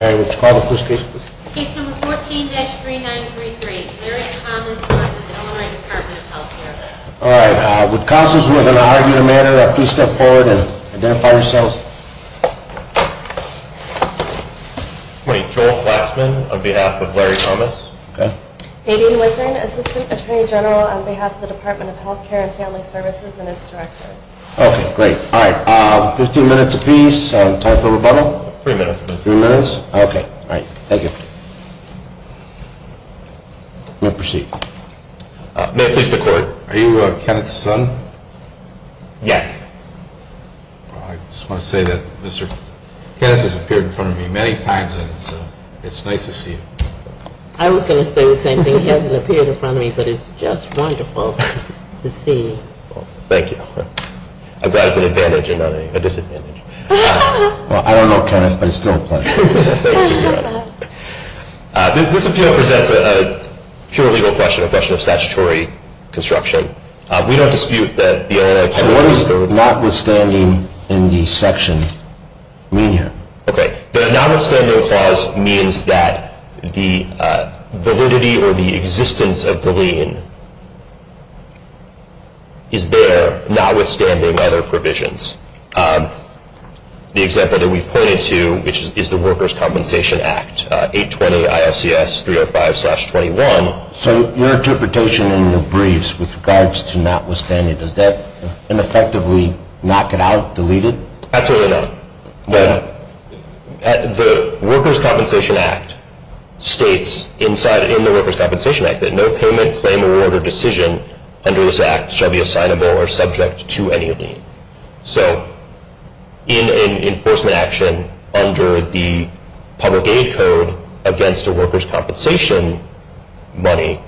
Case No. 14-3933, Larry Thomas v. Illinois Department of Healthcare Joel Flaxman, on behalf of Larry Thomas Hayden Witherin, Assistant Attorney General, on behalf of the Department of Healthcare & Family Services and its Director Okay. Thank you. May I proceed? May it please the Court. Are you Kenneth's son? Yes. I just want to say that Kenneth has appeared in front of me many times, and it's nice to see you. I was going to say the same thing. He hasn't appeared in front of me, but it's just wonderful to see. Thank you. I'm glad it's an advantage and not a disadvantage. Well, I don't know Kenneth, but it's still a pleasure. This appeal presents a pure legal question, a question of statutory construction. We don't dispute that the Illinois Department of Healthcare & Family Services So what does notwithstanding in the section mean here? Okay. The notwithstanding clause means that the validity or the existence of the lien is there, notwithstanding other provisions. The example that we've pointed to is the Workers' Compensation Act, 820 ILCS 305-21. So your interpretation in your briefs with regards to notwithstanding, does that ineffectively knock it out, delete it? Absolutely not. Why not? The Workers' Compensation Act states in the Workers' Compensation Act that no payment, claim, award, or decision under this Act shall be assignable or subject to any lien. So in an enforcement action under the public aid code against a workers' compensation money,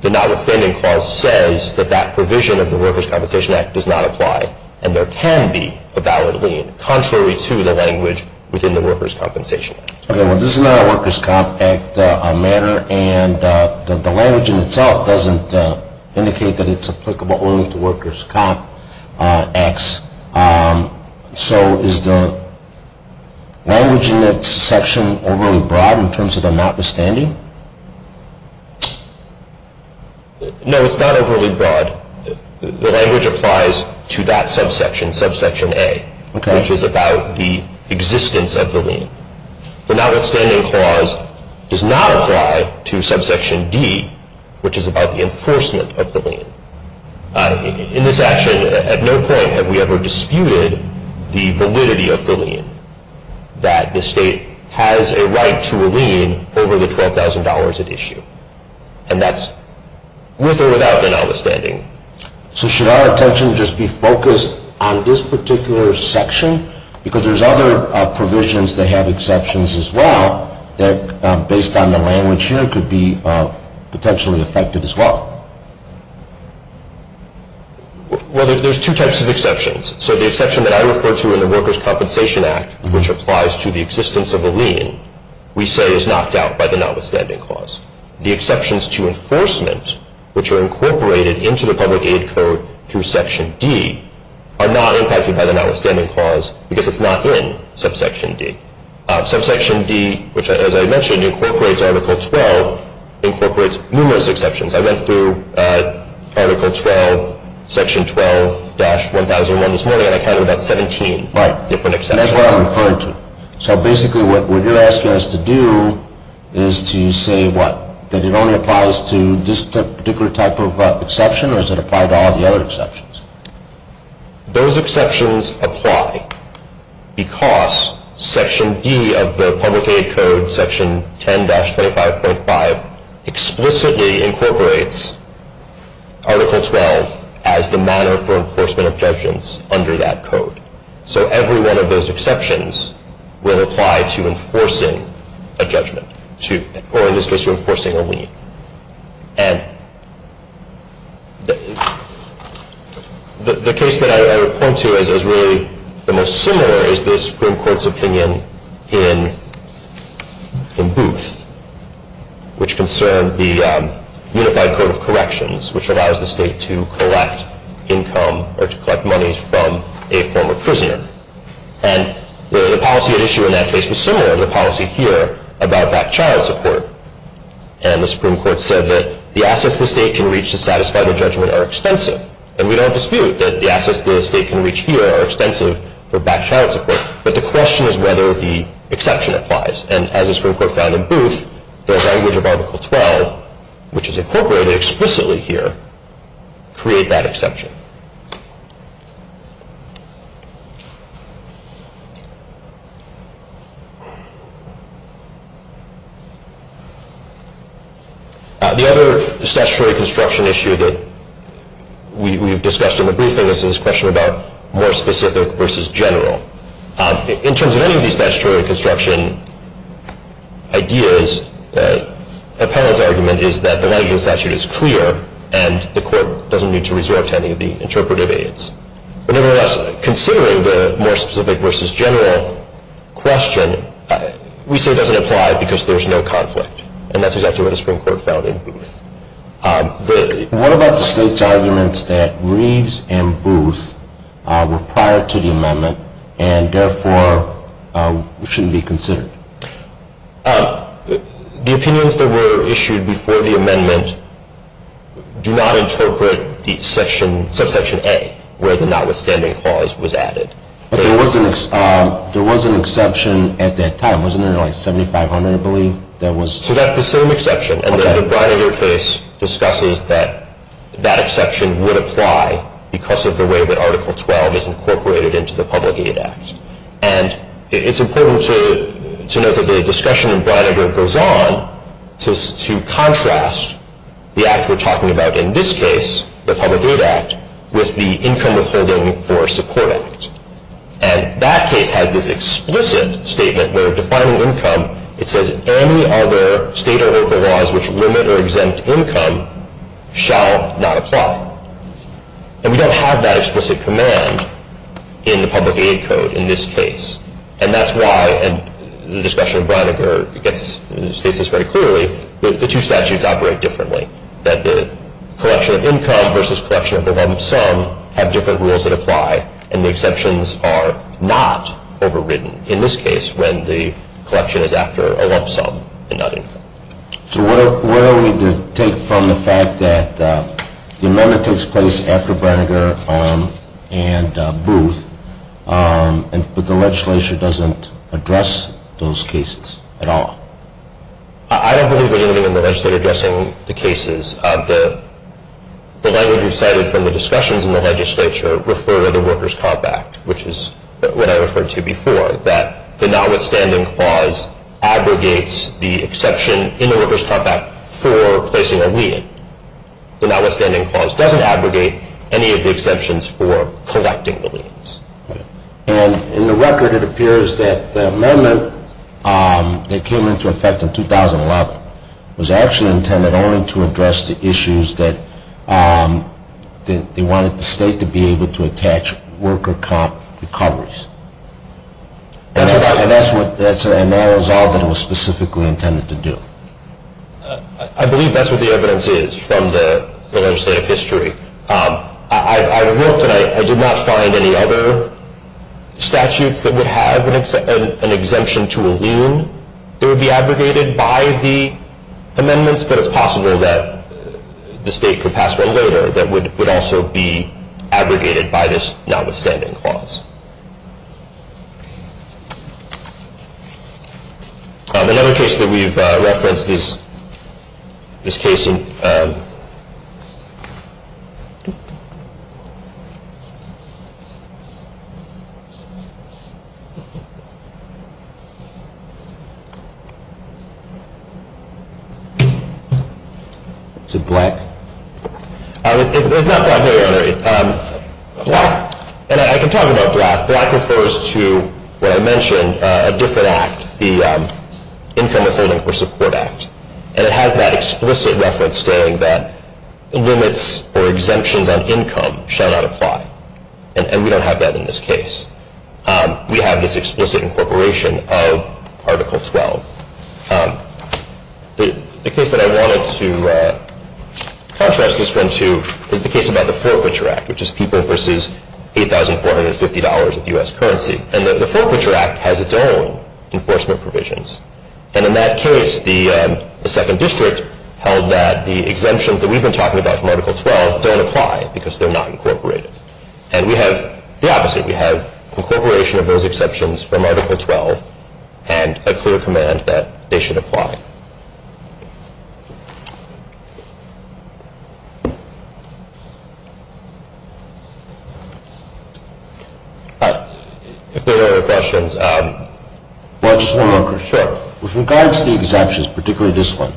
the notwithstanding clause says that that provision of the Workers' Compensation Act does not apply and there can be a valid lien, contrary to the language within the Workers' Compensation Act. Okay, well this is not a Workers' Comp Act matter and the language in itself doesn't indicate that it's applicable only to Workers' Comp Acts. So is the language in that section overly broad in terms of the notwithstanding? No, it's not overly broad. The language applies to that subsection, subsection A, which is about the existence of the lien. The notwithstanding clause does not apply to subsection D, which is about the enforcement of the lien. In this action, at no point have we ever disputed the validity of the lien, that the State has a right to a lien over the $12,000 at issue. And that's with or without the notwithstanding. So should our attention just be focused on this particular section? Because there's other provisions that have exceptions as well that, based on the language here, could be potentially effective as well. Well, there's two types of exceptions. So the exception that I refer to in the Workers' Compensation Act, which applies to the existence of a lien, we say is knocked out by the notwithstanding clause. The exceptions to enforcement, which are incorporated into the public aid code through Section D, are not impacted by the notwithstanding clause because it's not in subsection D. Subsection D, which, as I mentioned, incorporates Article 12, incorporates numerous exceptions. I went through Article 12, Section 12-1001 this morning, and I counted about 17 different exceptions. Right, and that's what I'm referring to. So basically what you're asking us to do is to say what? That it only applies to this particular type of exception, or does it apply to all the other exceptions? Those exceptions apply because Section D of the public aid code, Section 10-25.5, explicitly incorporates Article 12 as the manner for enforcement of judgments under that code. So every one of those exceptions will apply to enforcing a judgment, or in this case, to enforcing a lien. And the case that I would point to as really the most similar is this Supreme Court's opinion in Booth, which concerned the Unified Code of Corrections, which allows the state to collect income or to collect money from a former prisoner. And the policy at issue in that case was similar to the policy here about back child support. And the Supreme Court said that the assets the state can reach to satisfy the judgment are extensive. And we don't dispute that the assets the state can reach here are extensive for back child support, but the question is whether the exception applies. And as the Supreme Court found in Booth, the language of Article 12, which is incorporated explicitly here, create that exception. The other statutory construction issue that we've discussed in the briefing is this question about more specific versus general. In terms of any of these statutory construction ideas, Appellant's argument is that the language of the statute is clear and the court doesn't need to resort to any of the interpretive aids. Nevertheless, considering the more specific versus general question, we say it doesn't apply because there's no conflict. What about the state's arguments that Reeves and Booth were prior to the amendment and therefore shouldn't be considered? The opinions that were issued before the amendment do not interpret the subsection A, where the notwithstanding clause was added. There was an exception at that time, wasn't there, like, 7500, I believe? So that's the same exception. And then the Breininger case discusses that that exception would apply because of the way that Article 12 is incorporated into the Public Aid Act. And it's important to note that the discussion in Breininger goes on to contrast the act we're talking about in this case, the Public Aid Act, with the Income Withholding for Support Act. And that case has this explicit statement where, defining income, it says any other state or local laws which limit or exempt income shall not apply. And we don't have that explicit command in the Public Aid Code in this case. And that's why, and the discussion in Breininger states this very clearly, the two statutes operate differently, that the collection of income versus collection of the lump sum have different rules that apply, and the exceptions are not overridden. In this case, when the collection is after a lump sum and not income. So where are we to take from the fact that the amendment takes place after Breininger and Booth, but the legislature doesn't address those cases at all? I don't believe there's anything in the legislature addressing the cases. The language we've cited from the discussions in the legislature refer to the Workers' Comp Act, which is what I referred to before, that the notwithstanding clause abrogates the exception in the Workers' Comp Act for placing a lien. The notwithstanding clause doesn't abrogate any of the exceptions for collecting the liens. And in the record, it appears that the amendment that came into effect in 2011 was actually intended only to address the issues that they wanted the state to be able to attach worker comp recoveries. And that was all that it was specifically intended to do. I believe that's what the evidence is from the legislative history. I looked and I did not find any other statutes that would have an exemption to a lien. It would be abrogated by the amendments, but it's possible that the state could pass one later that would also be abrogated by this notwithstanding clause. Another case that we've referenced is this case in Black. It's not Black hereditary. And I can talk about Black. Black refers to what I mentioned, a different act, the Income Withholding for Support Act. And it has that explicit reference stating that limits or exemptions on income shall not apply. And we don't have that in this case. We have this explicit incorporation of Article 12. The case that I wanted to contrast this one to is the case about the Forfeiture Act, which is people versus $8,450 of U.S. currency. And the Forfeiture Act has its own enforcement provisions. And in that case, the second district held that the exemptions that we've been talking about from Article 12 don't apply because they're not incorporated. And we have the opposite. You have incorporation of those exceptions from Article 12 and a clear command that they should apply. If there are no other questions. Well, I just want to make sure. With regards to the exemptions, particularly this one,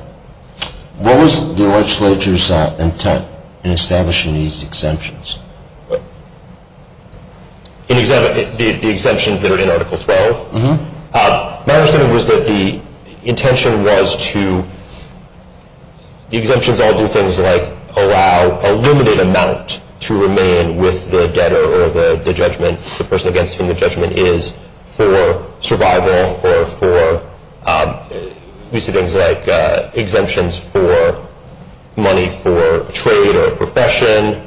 what was the legislature's intent in establishing these exemptions? The exemptions that are in Article 12? My understanding was that the intention was to – the exemptions all do things like allow a limited amount to remain with the debtor or the person against whom the judgment is for survival or for things like exemptions for money for trade or profession,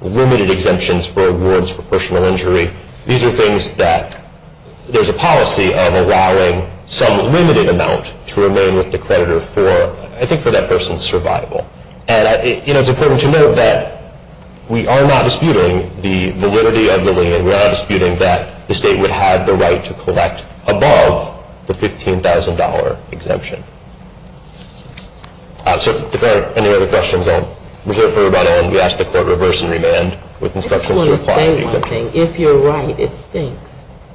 limited exemptions for awards for personal injury. These are things that there's a policy of allowing some limited amount to remain with the creditor for, I think, for that person's survival. And it's important to note that we are not disputing the validity of the lien. We are not disputing that the state would have the right to collect above the $15,000 exemption. So if there are any other questions, I'll reserve for about a minute. We'll ask the Court to reverse and remand with instructions to apply the exemptions. I just want to say one thing. If you're right, it stinks.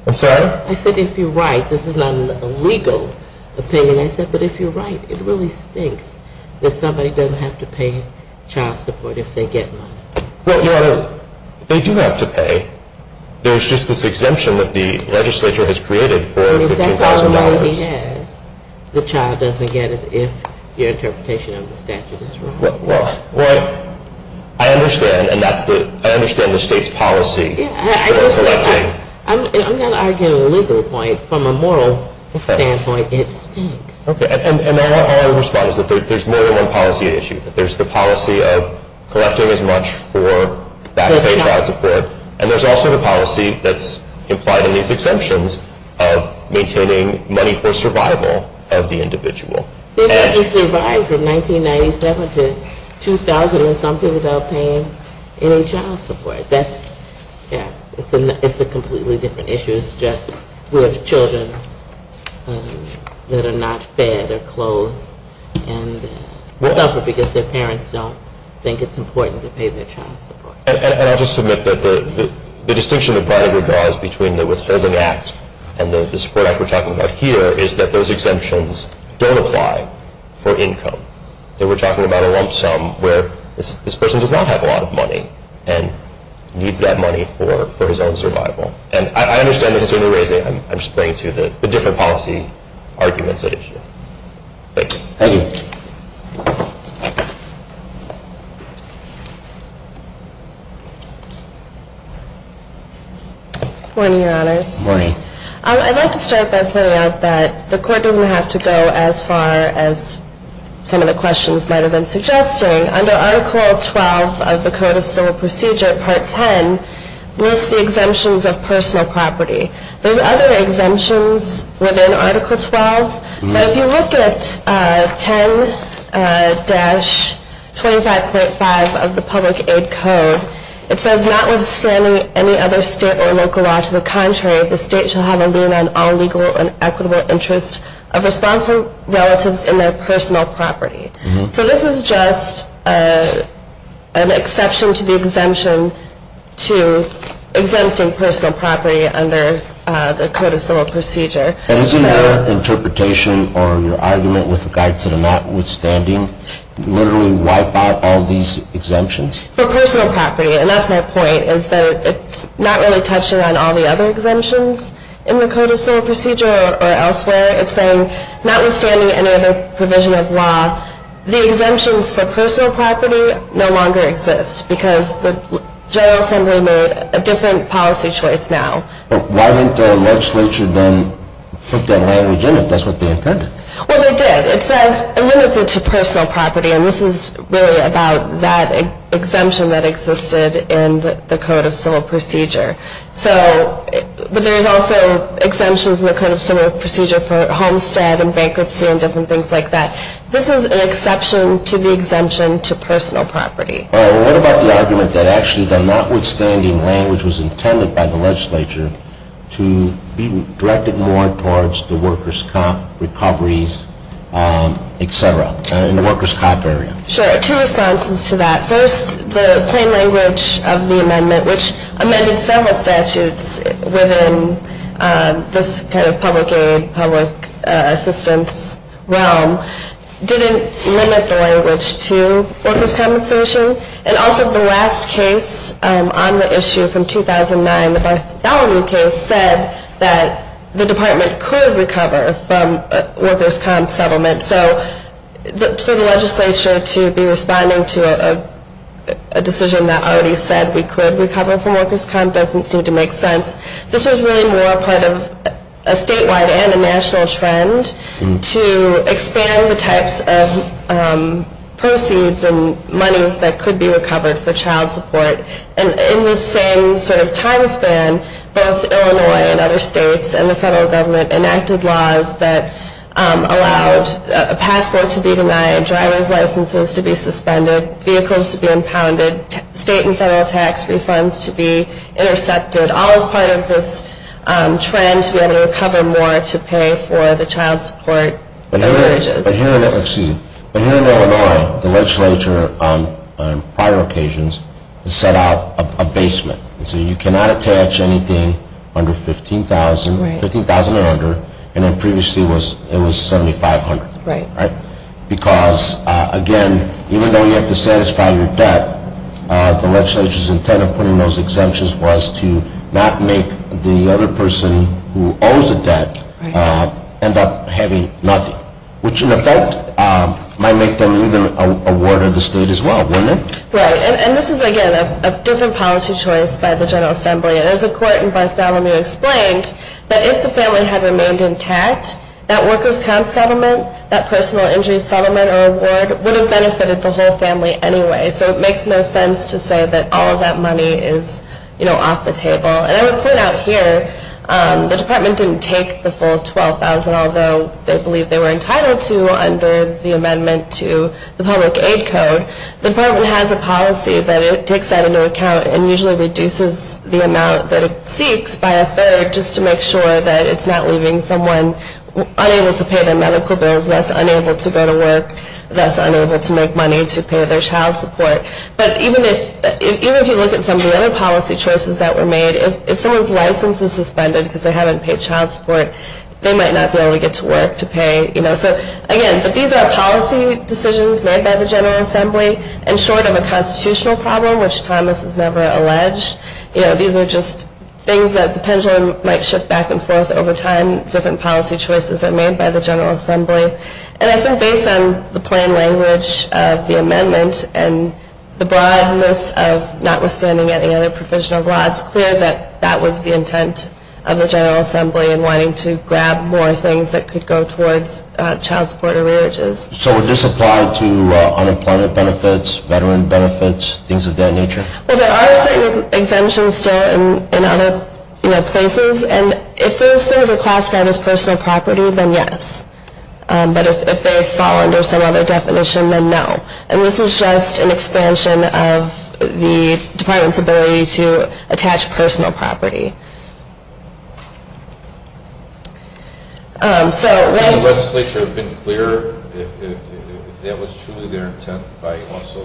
I'm sorry? I said if you're right. This is not a legal opinion. I said, but if you're right, it really stinks that somebody doesn't have to pay child support if they get money. Well, Your Honor, they do have to pay. There's just this exemption that the legislature has created for $15,000. If that's all the money he has, the child doesn't get it if your interpretation of the statute is wrong. Well, I understand, and I understand the state's policy for collecting. I'm not arguing a legal point. From a moral standpoint, it stinks. Okay. And our response is that there's more than one policy at issue. There's the policy of collecting as much for back-pay child support, and there's also the policy that's implied in these exemptions of maintaining money for survival of the individual. See, they just survived from 1997 to 2000 and something without paying any child support. That's, yeah, it's a completely different issue. It's just with children that are not fed or clothed and suffer because their parents don't think it's important to pay their child support. And I'll just submit that the distinction that probably withdraws between the Withholding Act and the support act we're talking about here is that those exemptions don't apply for income. We're talking about a lump sum where this person does not have a lot of money and needs that money for his own survival. And I understand the concern you're raising. I'm just bringing to you the different policy arguments at issue. Thank you. Thank you. Good morning, Your Honors. Good morning. I'd like to start by pointing out that the Court doesn't have to go as far as some of the questions might have been suggesting. Under Article 12 of the Code of Civil Procedure, Part 10, lists the exemptions of personal property. There's other exemptions within Article 12, but if you look at 10-25.5 of the Public Aid Code, it says, notwithstanding any other state or local law, to the contrary, the state shall have a lien on all legal and equitable interest of responsive relatives in their personal property. So this is just an exception to the exemption to exempting personal property under the Code of Civil Procedure. And isn't your interpretation or your argument with regards to the notwithstanding literally wipe out all these exemptions? For personal property, and that's my point, is that it's not really touching on all the other exemptions in the Code of Civil Procedure or elsewhere. It's saying, notwithstanding any other provision of law, the exemptions for personal property no longer exist because the General Assembly made a different policy choice now. But why didn't the legislature then put that language in if that's what they intended? Well, they did. It says it limits it to personal property, and this is really about that exemption that existed in the Code of Civil Procedure. But there's also exemptions in the Code of Civil Procedure for homestead and bankruptcy and different things like that. This is an exception to the exemption to personal property. What about the argument that actually the notwithstanding language was intended by the legislature to be directed more towards the workers' comp recoveries, et cetera, in the workers' comp area? Sure. Two responses to that. First, the plain language of the amendment, which amended several statutes within this kind of public aid, public assistance realm, didn't limit the language to workers' compensation. And also, the last case on the issue from 2009, the Bartholomew case, said that the department could recover from workers' comp settlement. So for the legislature to be responding to a decision that already said we could recover from workers' comp doesn't seem to make sense. This was really more a part of a statewide and a national trend to expand the types of proceeds and monies that could be recovered for child support. And in the same sort of time span, both Illinois and other states and the federal government enacted laws that allowed a passport to be denied, driver's licenses to be suspended, vehicles to be impounded, state and federal tax refunds to be intercepted, all as part of this trend to be able to recover more to pay for the child support. But here in Illinois, the legislature on prior occasions has set out a basement. And so you cannot attach anything under $15,000, $15,800, and then previously it was $7,500. Because, again, even though you have to satisfy your debt, the legislature's intent of putting those exemptions was to not make the other person who owes a debt end up having nothing, which in effect might make them either a ward of the state as well, wouldn't it? Right. And this is, again, a different policy choice by the General Assembly. As a court in Bartholomew explained, that if the family had remained intact, that workers' comp settlement, that personal injury settlement or award would have benefited the whole family anyway. So it makes no sense to say that all of that money is, you know, off the table. And I would point out here the department didn't take the full $12,000, although they believe they were entitled to under the amendment to the public aid code. The department has a policy that it takes that into account and usually reduces the amount that it seeks by a third just to make sure that it's not leaving someone unable to pay their medical bills, thus unable to go to work, thus unable to make money to pay their child support. But even if you look at some of the other policy choices that were made, if someone's license is suspended because they haven't paid child support, they might not be able to get to work to pay, you know. So again, but these are policy decisions made by the General Assembly. And short of a constitutional problem, which Thomas has never alleged, you know, these are just things that the pendulum might shift back and forth over time. Different policy choices are made by the General Assembly. And I think based on the plain language of the amendment and the broadness of notwithstanding any other provision of law, it's clear that that was the intent of the General Assembly and wanting to grab more things that could go towards child support or re-arches. So would this apply to unemployment benefits, veteran benefits, things of that nature? Well, there are certain exemptions in other places. And if those things are classified as personal property, then yes. But if they fall under some other definition, then no. And this is just an expansion of the Department's ability to attach personal property. So when- Would the legislature have been clearer if that was truly their intent by also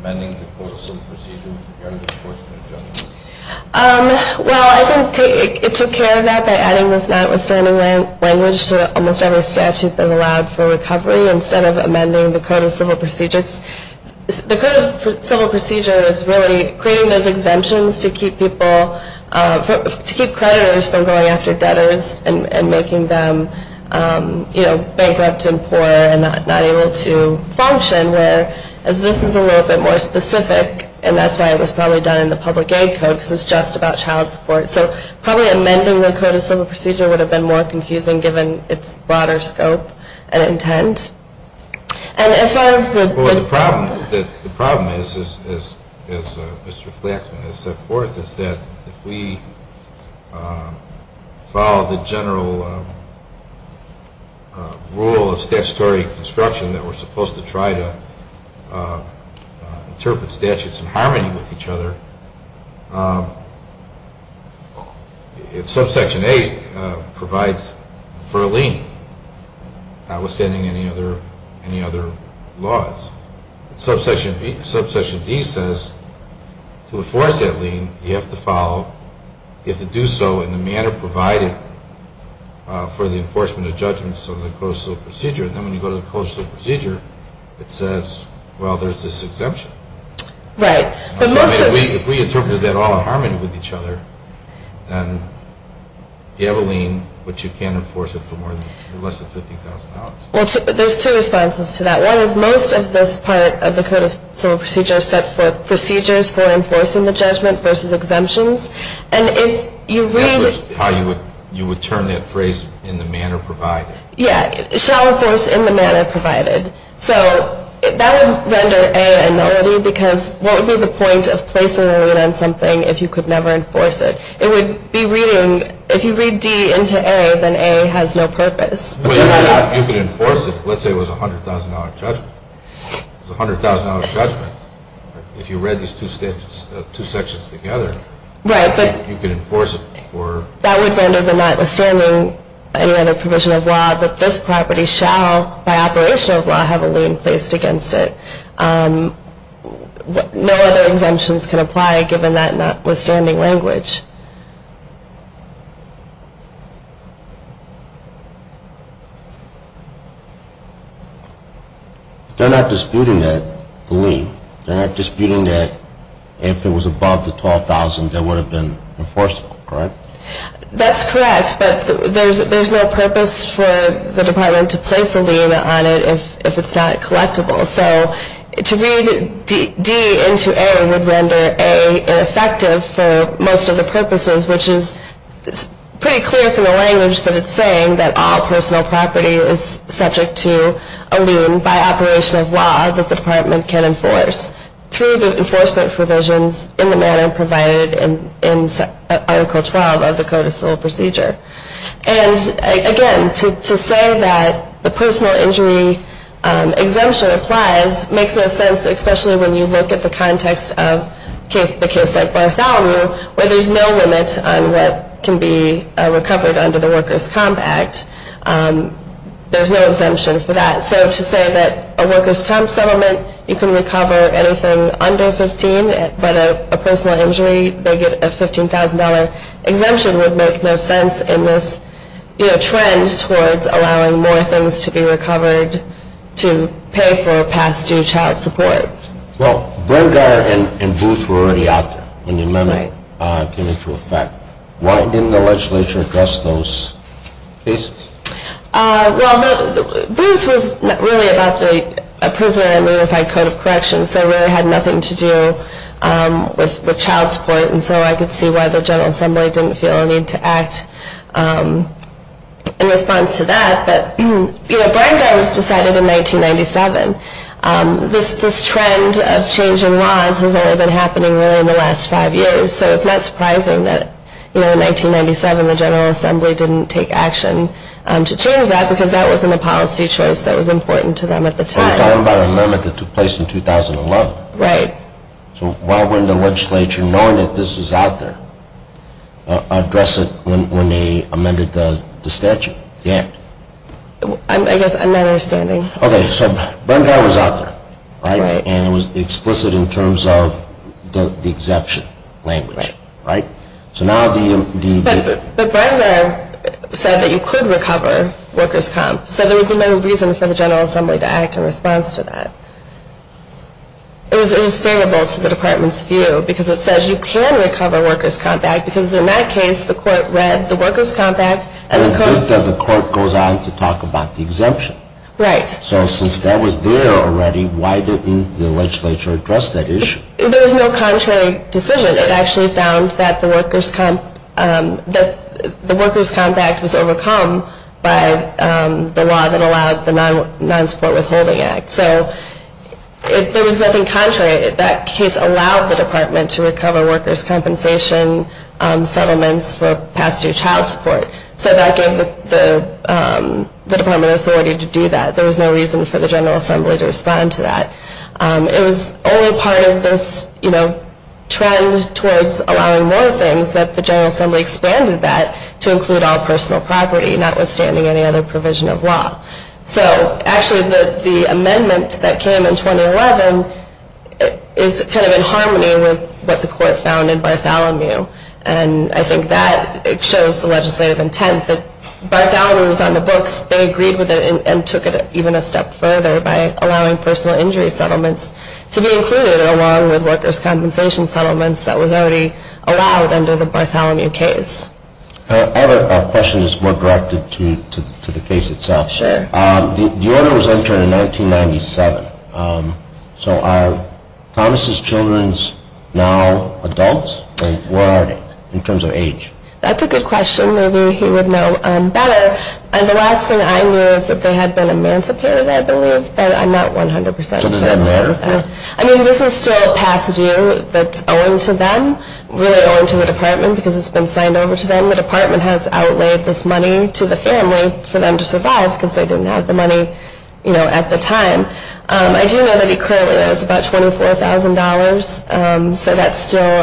amending the Code of Civil Procedure with regard to the enforcement of judgment? Well, I think it took care of that by adding this notwithstanding language to almost every statute that allowed for recovery instead of amending the Code of Civil Procedure. The Code of Civil Procedure is really creating those exemptions to keep people- to keep creditors from going after debtors and making them bankrupt and poor and not able to function. Whereas this is a little bit more specific, and that's why it was probably done in the Public Aid Code because it's just about child support. So probably amending the Code of Civil Procedure would have been more confusing given its broader scope and intent. And as far as the- Well, the problem is, as Mr. Flaxman has set forth, is that if we follow the general rule of statutory construction that we're supposed to try to interpret statutes in harmony with each other, subsection A provides for a lien, notwithstanding any other laws. Subsection D says to enforce that lien, you have to follow- you have to do so in the manner provided for the enforcement of judgments under the Code of Civil Procedure. And then when you go to the Code of Civil Procedure, it says, well, there's this exemption. Right. If we interpreted that all in harmony with each other, then you have a lien, but you can't enforce it for less than $50,000. Well, there's two responses to that. One is most of this part of the Code of Civil Procedure sets forth procedures for enforcing the judgment versus exemptions. And if you read- That's how you would turn that phrase, in the manner provided. Yeah, shall enforce in the manner provided. So that would render A a nullity, because what would be the point of placing a lien on something if you could never enforce it? It would be reading-if you read D into A, then A has no purpose. If you could enforce it, let's say it was a $100,000 judgment. It was a $100,000 judgment. If you read these two sections together, you could enforce it for- That would render the notwithstanding any other provision of law that this property shall, by operation of law, have a lien placed against it. No other exemptions can apply, given that notwithstanding language. They're not disputing that lien. They're not disputing that if it was above the $12,000, that would have been enforceable, correct? That's correct. But there's no purpose for the department to place a lien on it if it's not collectible. So to read D into A would render A ineffective for most of the purposes, which is pretty clear from the language that it's saying, that all personal property is subject to a lien, by operation of law, that the department can enforce. Through the enforcement provisions in the manner provided in Article 12 of the Code of Civil Procedure. And again, to say that the personal injury exemption applies makes no sense, especially when you look at the context of the case at Bartholomew, where there's no limit on what can be recovered under the Workers' Comp Act. There's no exemption for that. So to say that a Workers' Comp settlement, you can recover anything under $15,000, but a personal injury, they get a $15,000 exemption, would make no sense in this trend towards allowing more things to be recovered to pay for past due child support. Well, Brengar and Booth were already out there when the amendment came into effect. Why didn't the legislature address those cases? Well, Booth was really about the Prisoner Unified Code of Corrections, so it really had nothing to do with child support, and so I could see why the General Assembly didn't feel a need to act in response to that. But, you know, Brengar was decided in 1997. This trend of change in laws has only been happening really in the last five years, so it's not surprising that, you know, in 1997 the General Assembly didn't take action to change that because that wasn't a policy choice that was important to them at the time. Are you talking about an amendment that took place in 2011? Right. So why wouldn't the legislature, knowing that this was out there, address it when they amended the statute, the Act? I guess I'm not understanding. Okay, so Brengar was out there, right? And the issue is that the general assembly was in favor of the exemption language, right? But Brengar said that you could recover workers' comp, so there would be no reason for the General Assembly to act in response to that. It was favorable to the Department's view because it says you can recover workers' comp act because in that case the court read the workers' comp act and the court… Right. So since that was there already, why didn't the legislature address that issue? There was no contrary decision. It actually found that the workers' comp act was overcome by the law that allowed the non-support withholding act. So there was nothing contrary. That case allowed the Department to recover workers' compensation settlements for past year child support, so that gave the Department authority to do that. There was no reason for the General Assembly to respond to that. It was only part of this trend towards allowing more things that the General Assembly expanded that to include all personal property, notwithstanding any other provision of law. So actually the amendment that came in 2011 is kind of in harmony with what the court found in Bartholomew, and I think that shows the legislative intent that Bartholomew was on the books. They agreed with it and took it even a step further by allowing personal injury settlements to be included along with workers' compensation settlements that was already allowed under the Bartholomew case. I have a question that's more directed to the case itself. Sure. The order was entered in 1997. So are Thomas' children now adults? Where are they in terms of age? That's a good question. Maybe he would know better. The last thing I knew is that they had been emancipated, I believe, but I'm not 100% certain about that. So does that matter? I mean, this is still a past due that's owing to them, really owing to the Department, because it's been signed over to them. I don't think the Department has outlaid this money to the family for them to survive because they didn't have the money at the time. I do know that he currently owes about $24,000, so that's still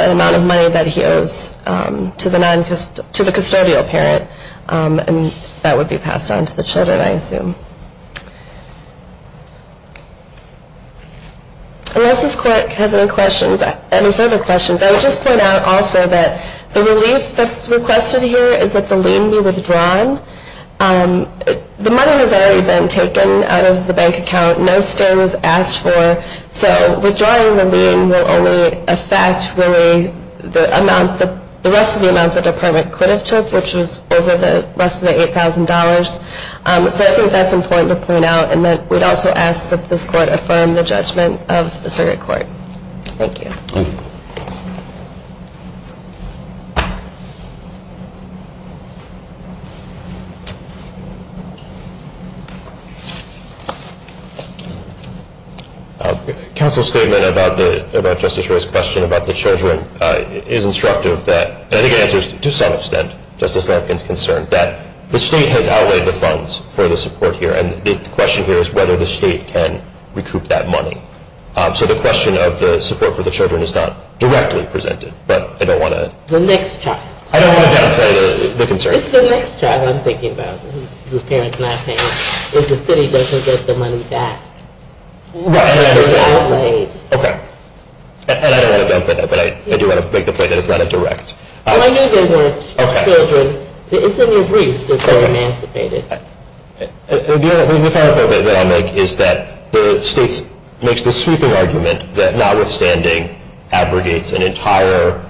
an amount of money that he owes to the custodial parent, and that would be passed on to the children, I assume. Unless this court has any further questions, I would just point out also that the relief that's requested here is that the lien be withdrawn. The money has already been taken out of the bank account. No stay was asked for. So withdrawing the lien will only affect, really, the rest of the amount the Department could have took, which was over the rest of the $8,000. So I think that's important to point out, and that we'd also ask that this court affirm the judgment of the circuit court. Thank you. Counsel's statement about Justice Roy's question about the children is instructive. I think it answers, to some extent, Justice Lampkin's concern that the state has outlaid the funds for the support here, and the question here is whether the state can recoup that money. So the question of the support for the children is not directly presented, but I don't want to— The next child. I don't want to downplay the concern. It's the next child I'm thinking about, whose parents are not paying, if the city doesn't get the money back. Right. It's been outlaid. Okay. And I don't want to downplay that, but I do want to make the point that it's not a direct— Well, I knew there were children. Okay. It's in your briefs that they're emancipated. The final point that I'll make is that the state makes the sweeping argument that notwithstanding abrogates an entire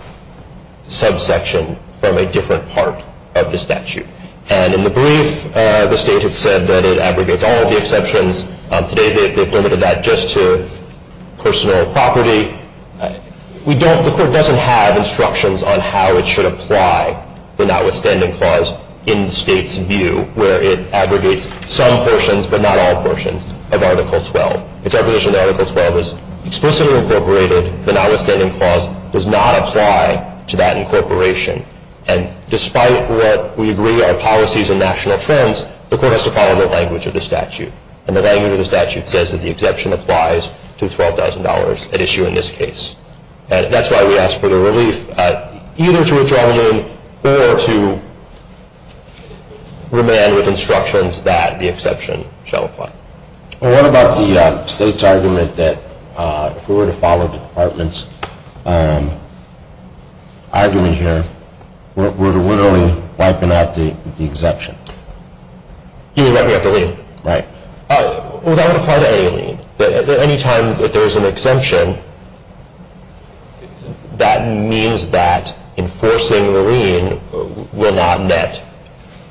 subsection from a different part of the statute. And in the brief, the state had said that it abrogates all of the exceptions. Today they've limited that just to personal property. The court doesn't have instructions on how it should apply the notwithstanding clause in the state's view, where it abrogates some portions, but not all portions, of Article 12. It's our position that Article 12 is explicitly incorporated. The notwithstanding clause does not apply to that incorporation. And despite what we agree are policies and national trends, the court has to follow the language of the statute. And the language of the statute says that the exception applies to $12,000 at issue in this case. That's why we ask for the relief either to withdraw the lien or to remand with instructions that the exception shall apply. What about the state's argument that if we were to follow the Department's argument here, we're literally wiping out the exemption? You mean that we have to lien? Right. Well, that would apply to any lien. Any time that there's an exemption, that means that enforcing the lien will not net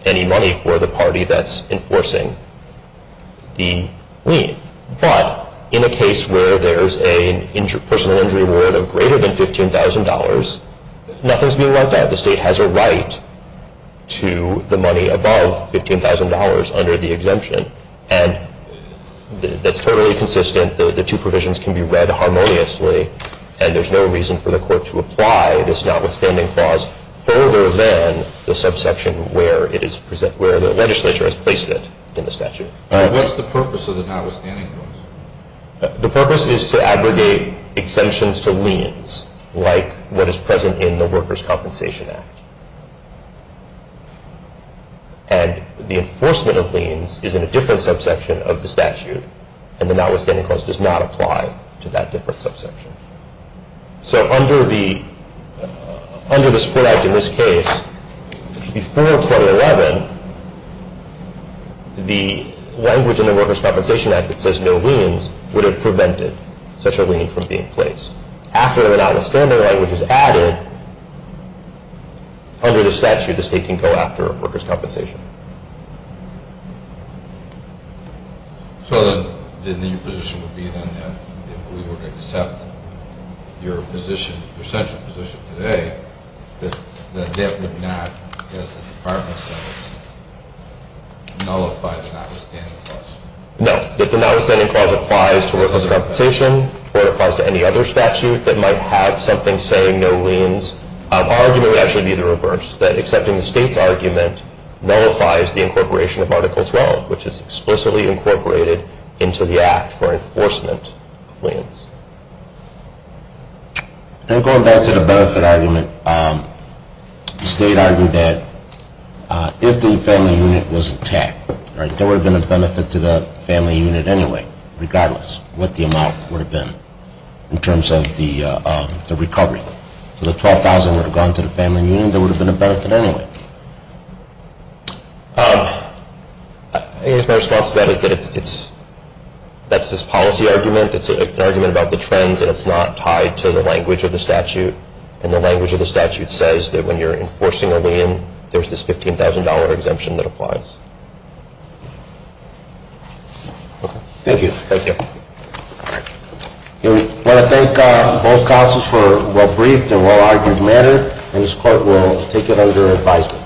any money for the party that's enforcing the lien. But in a case where there's a personal injury reward of greater than $15,000, nothing's being left out. The state has a right to the money above $15,000 under the exemption. And that's totally consistent. The two provisions can be read harmoniously, and there's no reason for the court to apply this notwithstanding clause further than the subsection where the legislature has placed it in the statute. What's the purpose of the notwithstanding clause? The purpose is to abrogate exemptions to liens like what is present in the Workers' Compensation Act. And the enforcement of liens is in a different subsection of the statute, and the notwithstanding clause does not apply to that different subsection. So under the support act in this case, before 2011, the language in the Workers' Compensation Act that says no liens would have prevented such a lien from being placed. After the notwithstanding language is added under the statute, the state can go after workers' compensation. So then your position would be then that if we were to accept your central position today, that that would not, as the department says, nullify the notwithstanding clause? No. If the notwithstanding clause applies to workers' compensation or applies to any other statute that might have something saying no liens, our argument would actually be the reverse, that accepting the state's argument nullifies the incorporation of Article 12, which is explicitly incorporated into the act for enforcement of liens. And going back to the benefit argument, the state argued that if the family unit was attacked, there would have been a benefit to the family unit anyway, regardless of what the amount would have been in terms of the recovery. If the $12,000 would have gone to the family unit, there would have been a benefit anyway. I guess my response to that is that that's this policy argument. It's an argument about the trends, and it's not tied to the language of the statute. And the language of the statute says that when you're enforcing a lien, there's this $15,000 exemption that applies. Thank you. Thank you. We want to thank both counsels for a well-briefed and well-argued matter, and this Court will take it under advisement.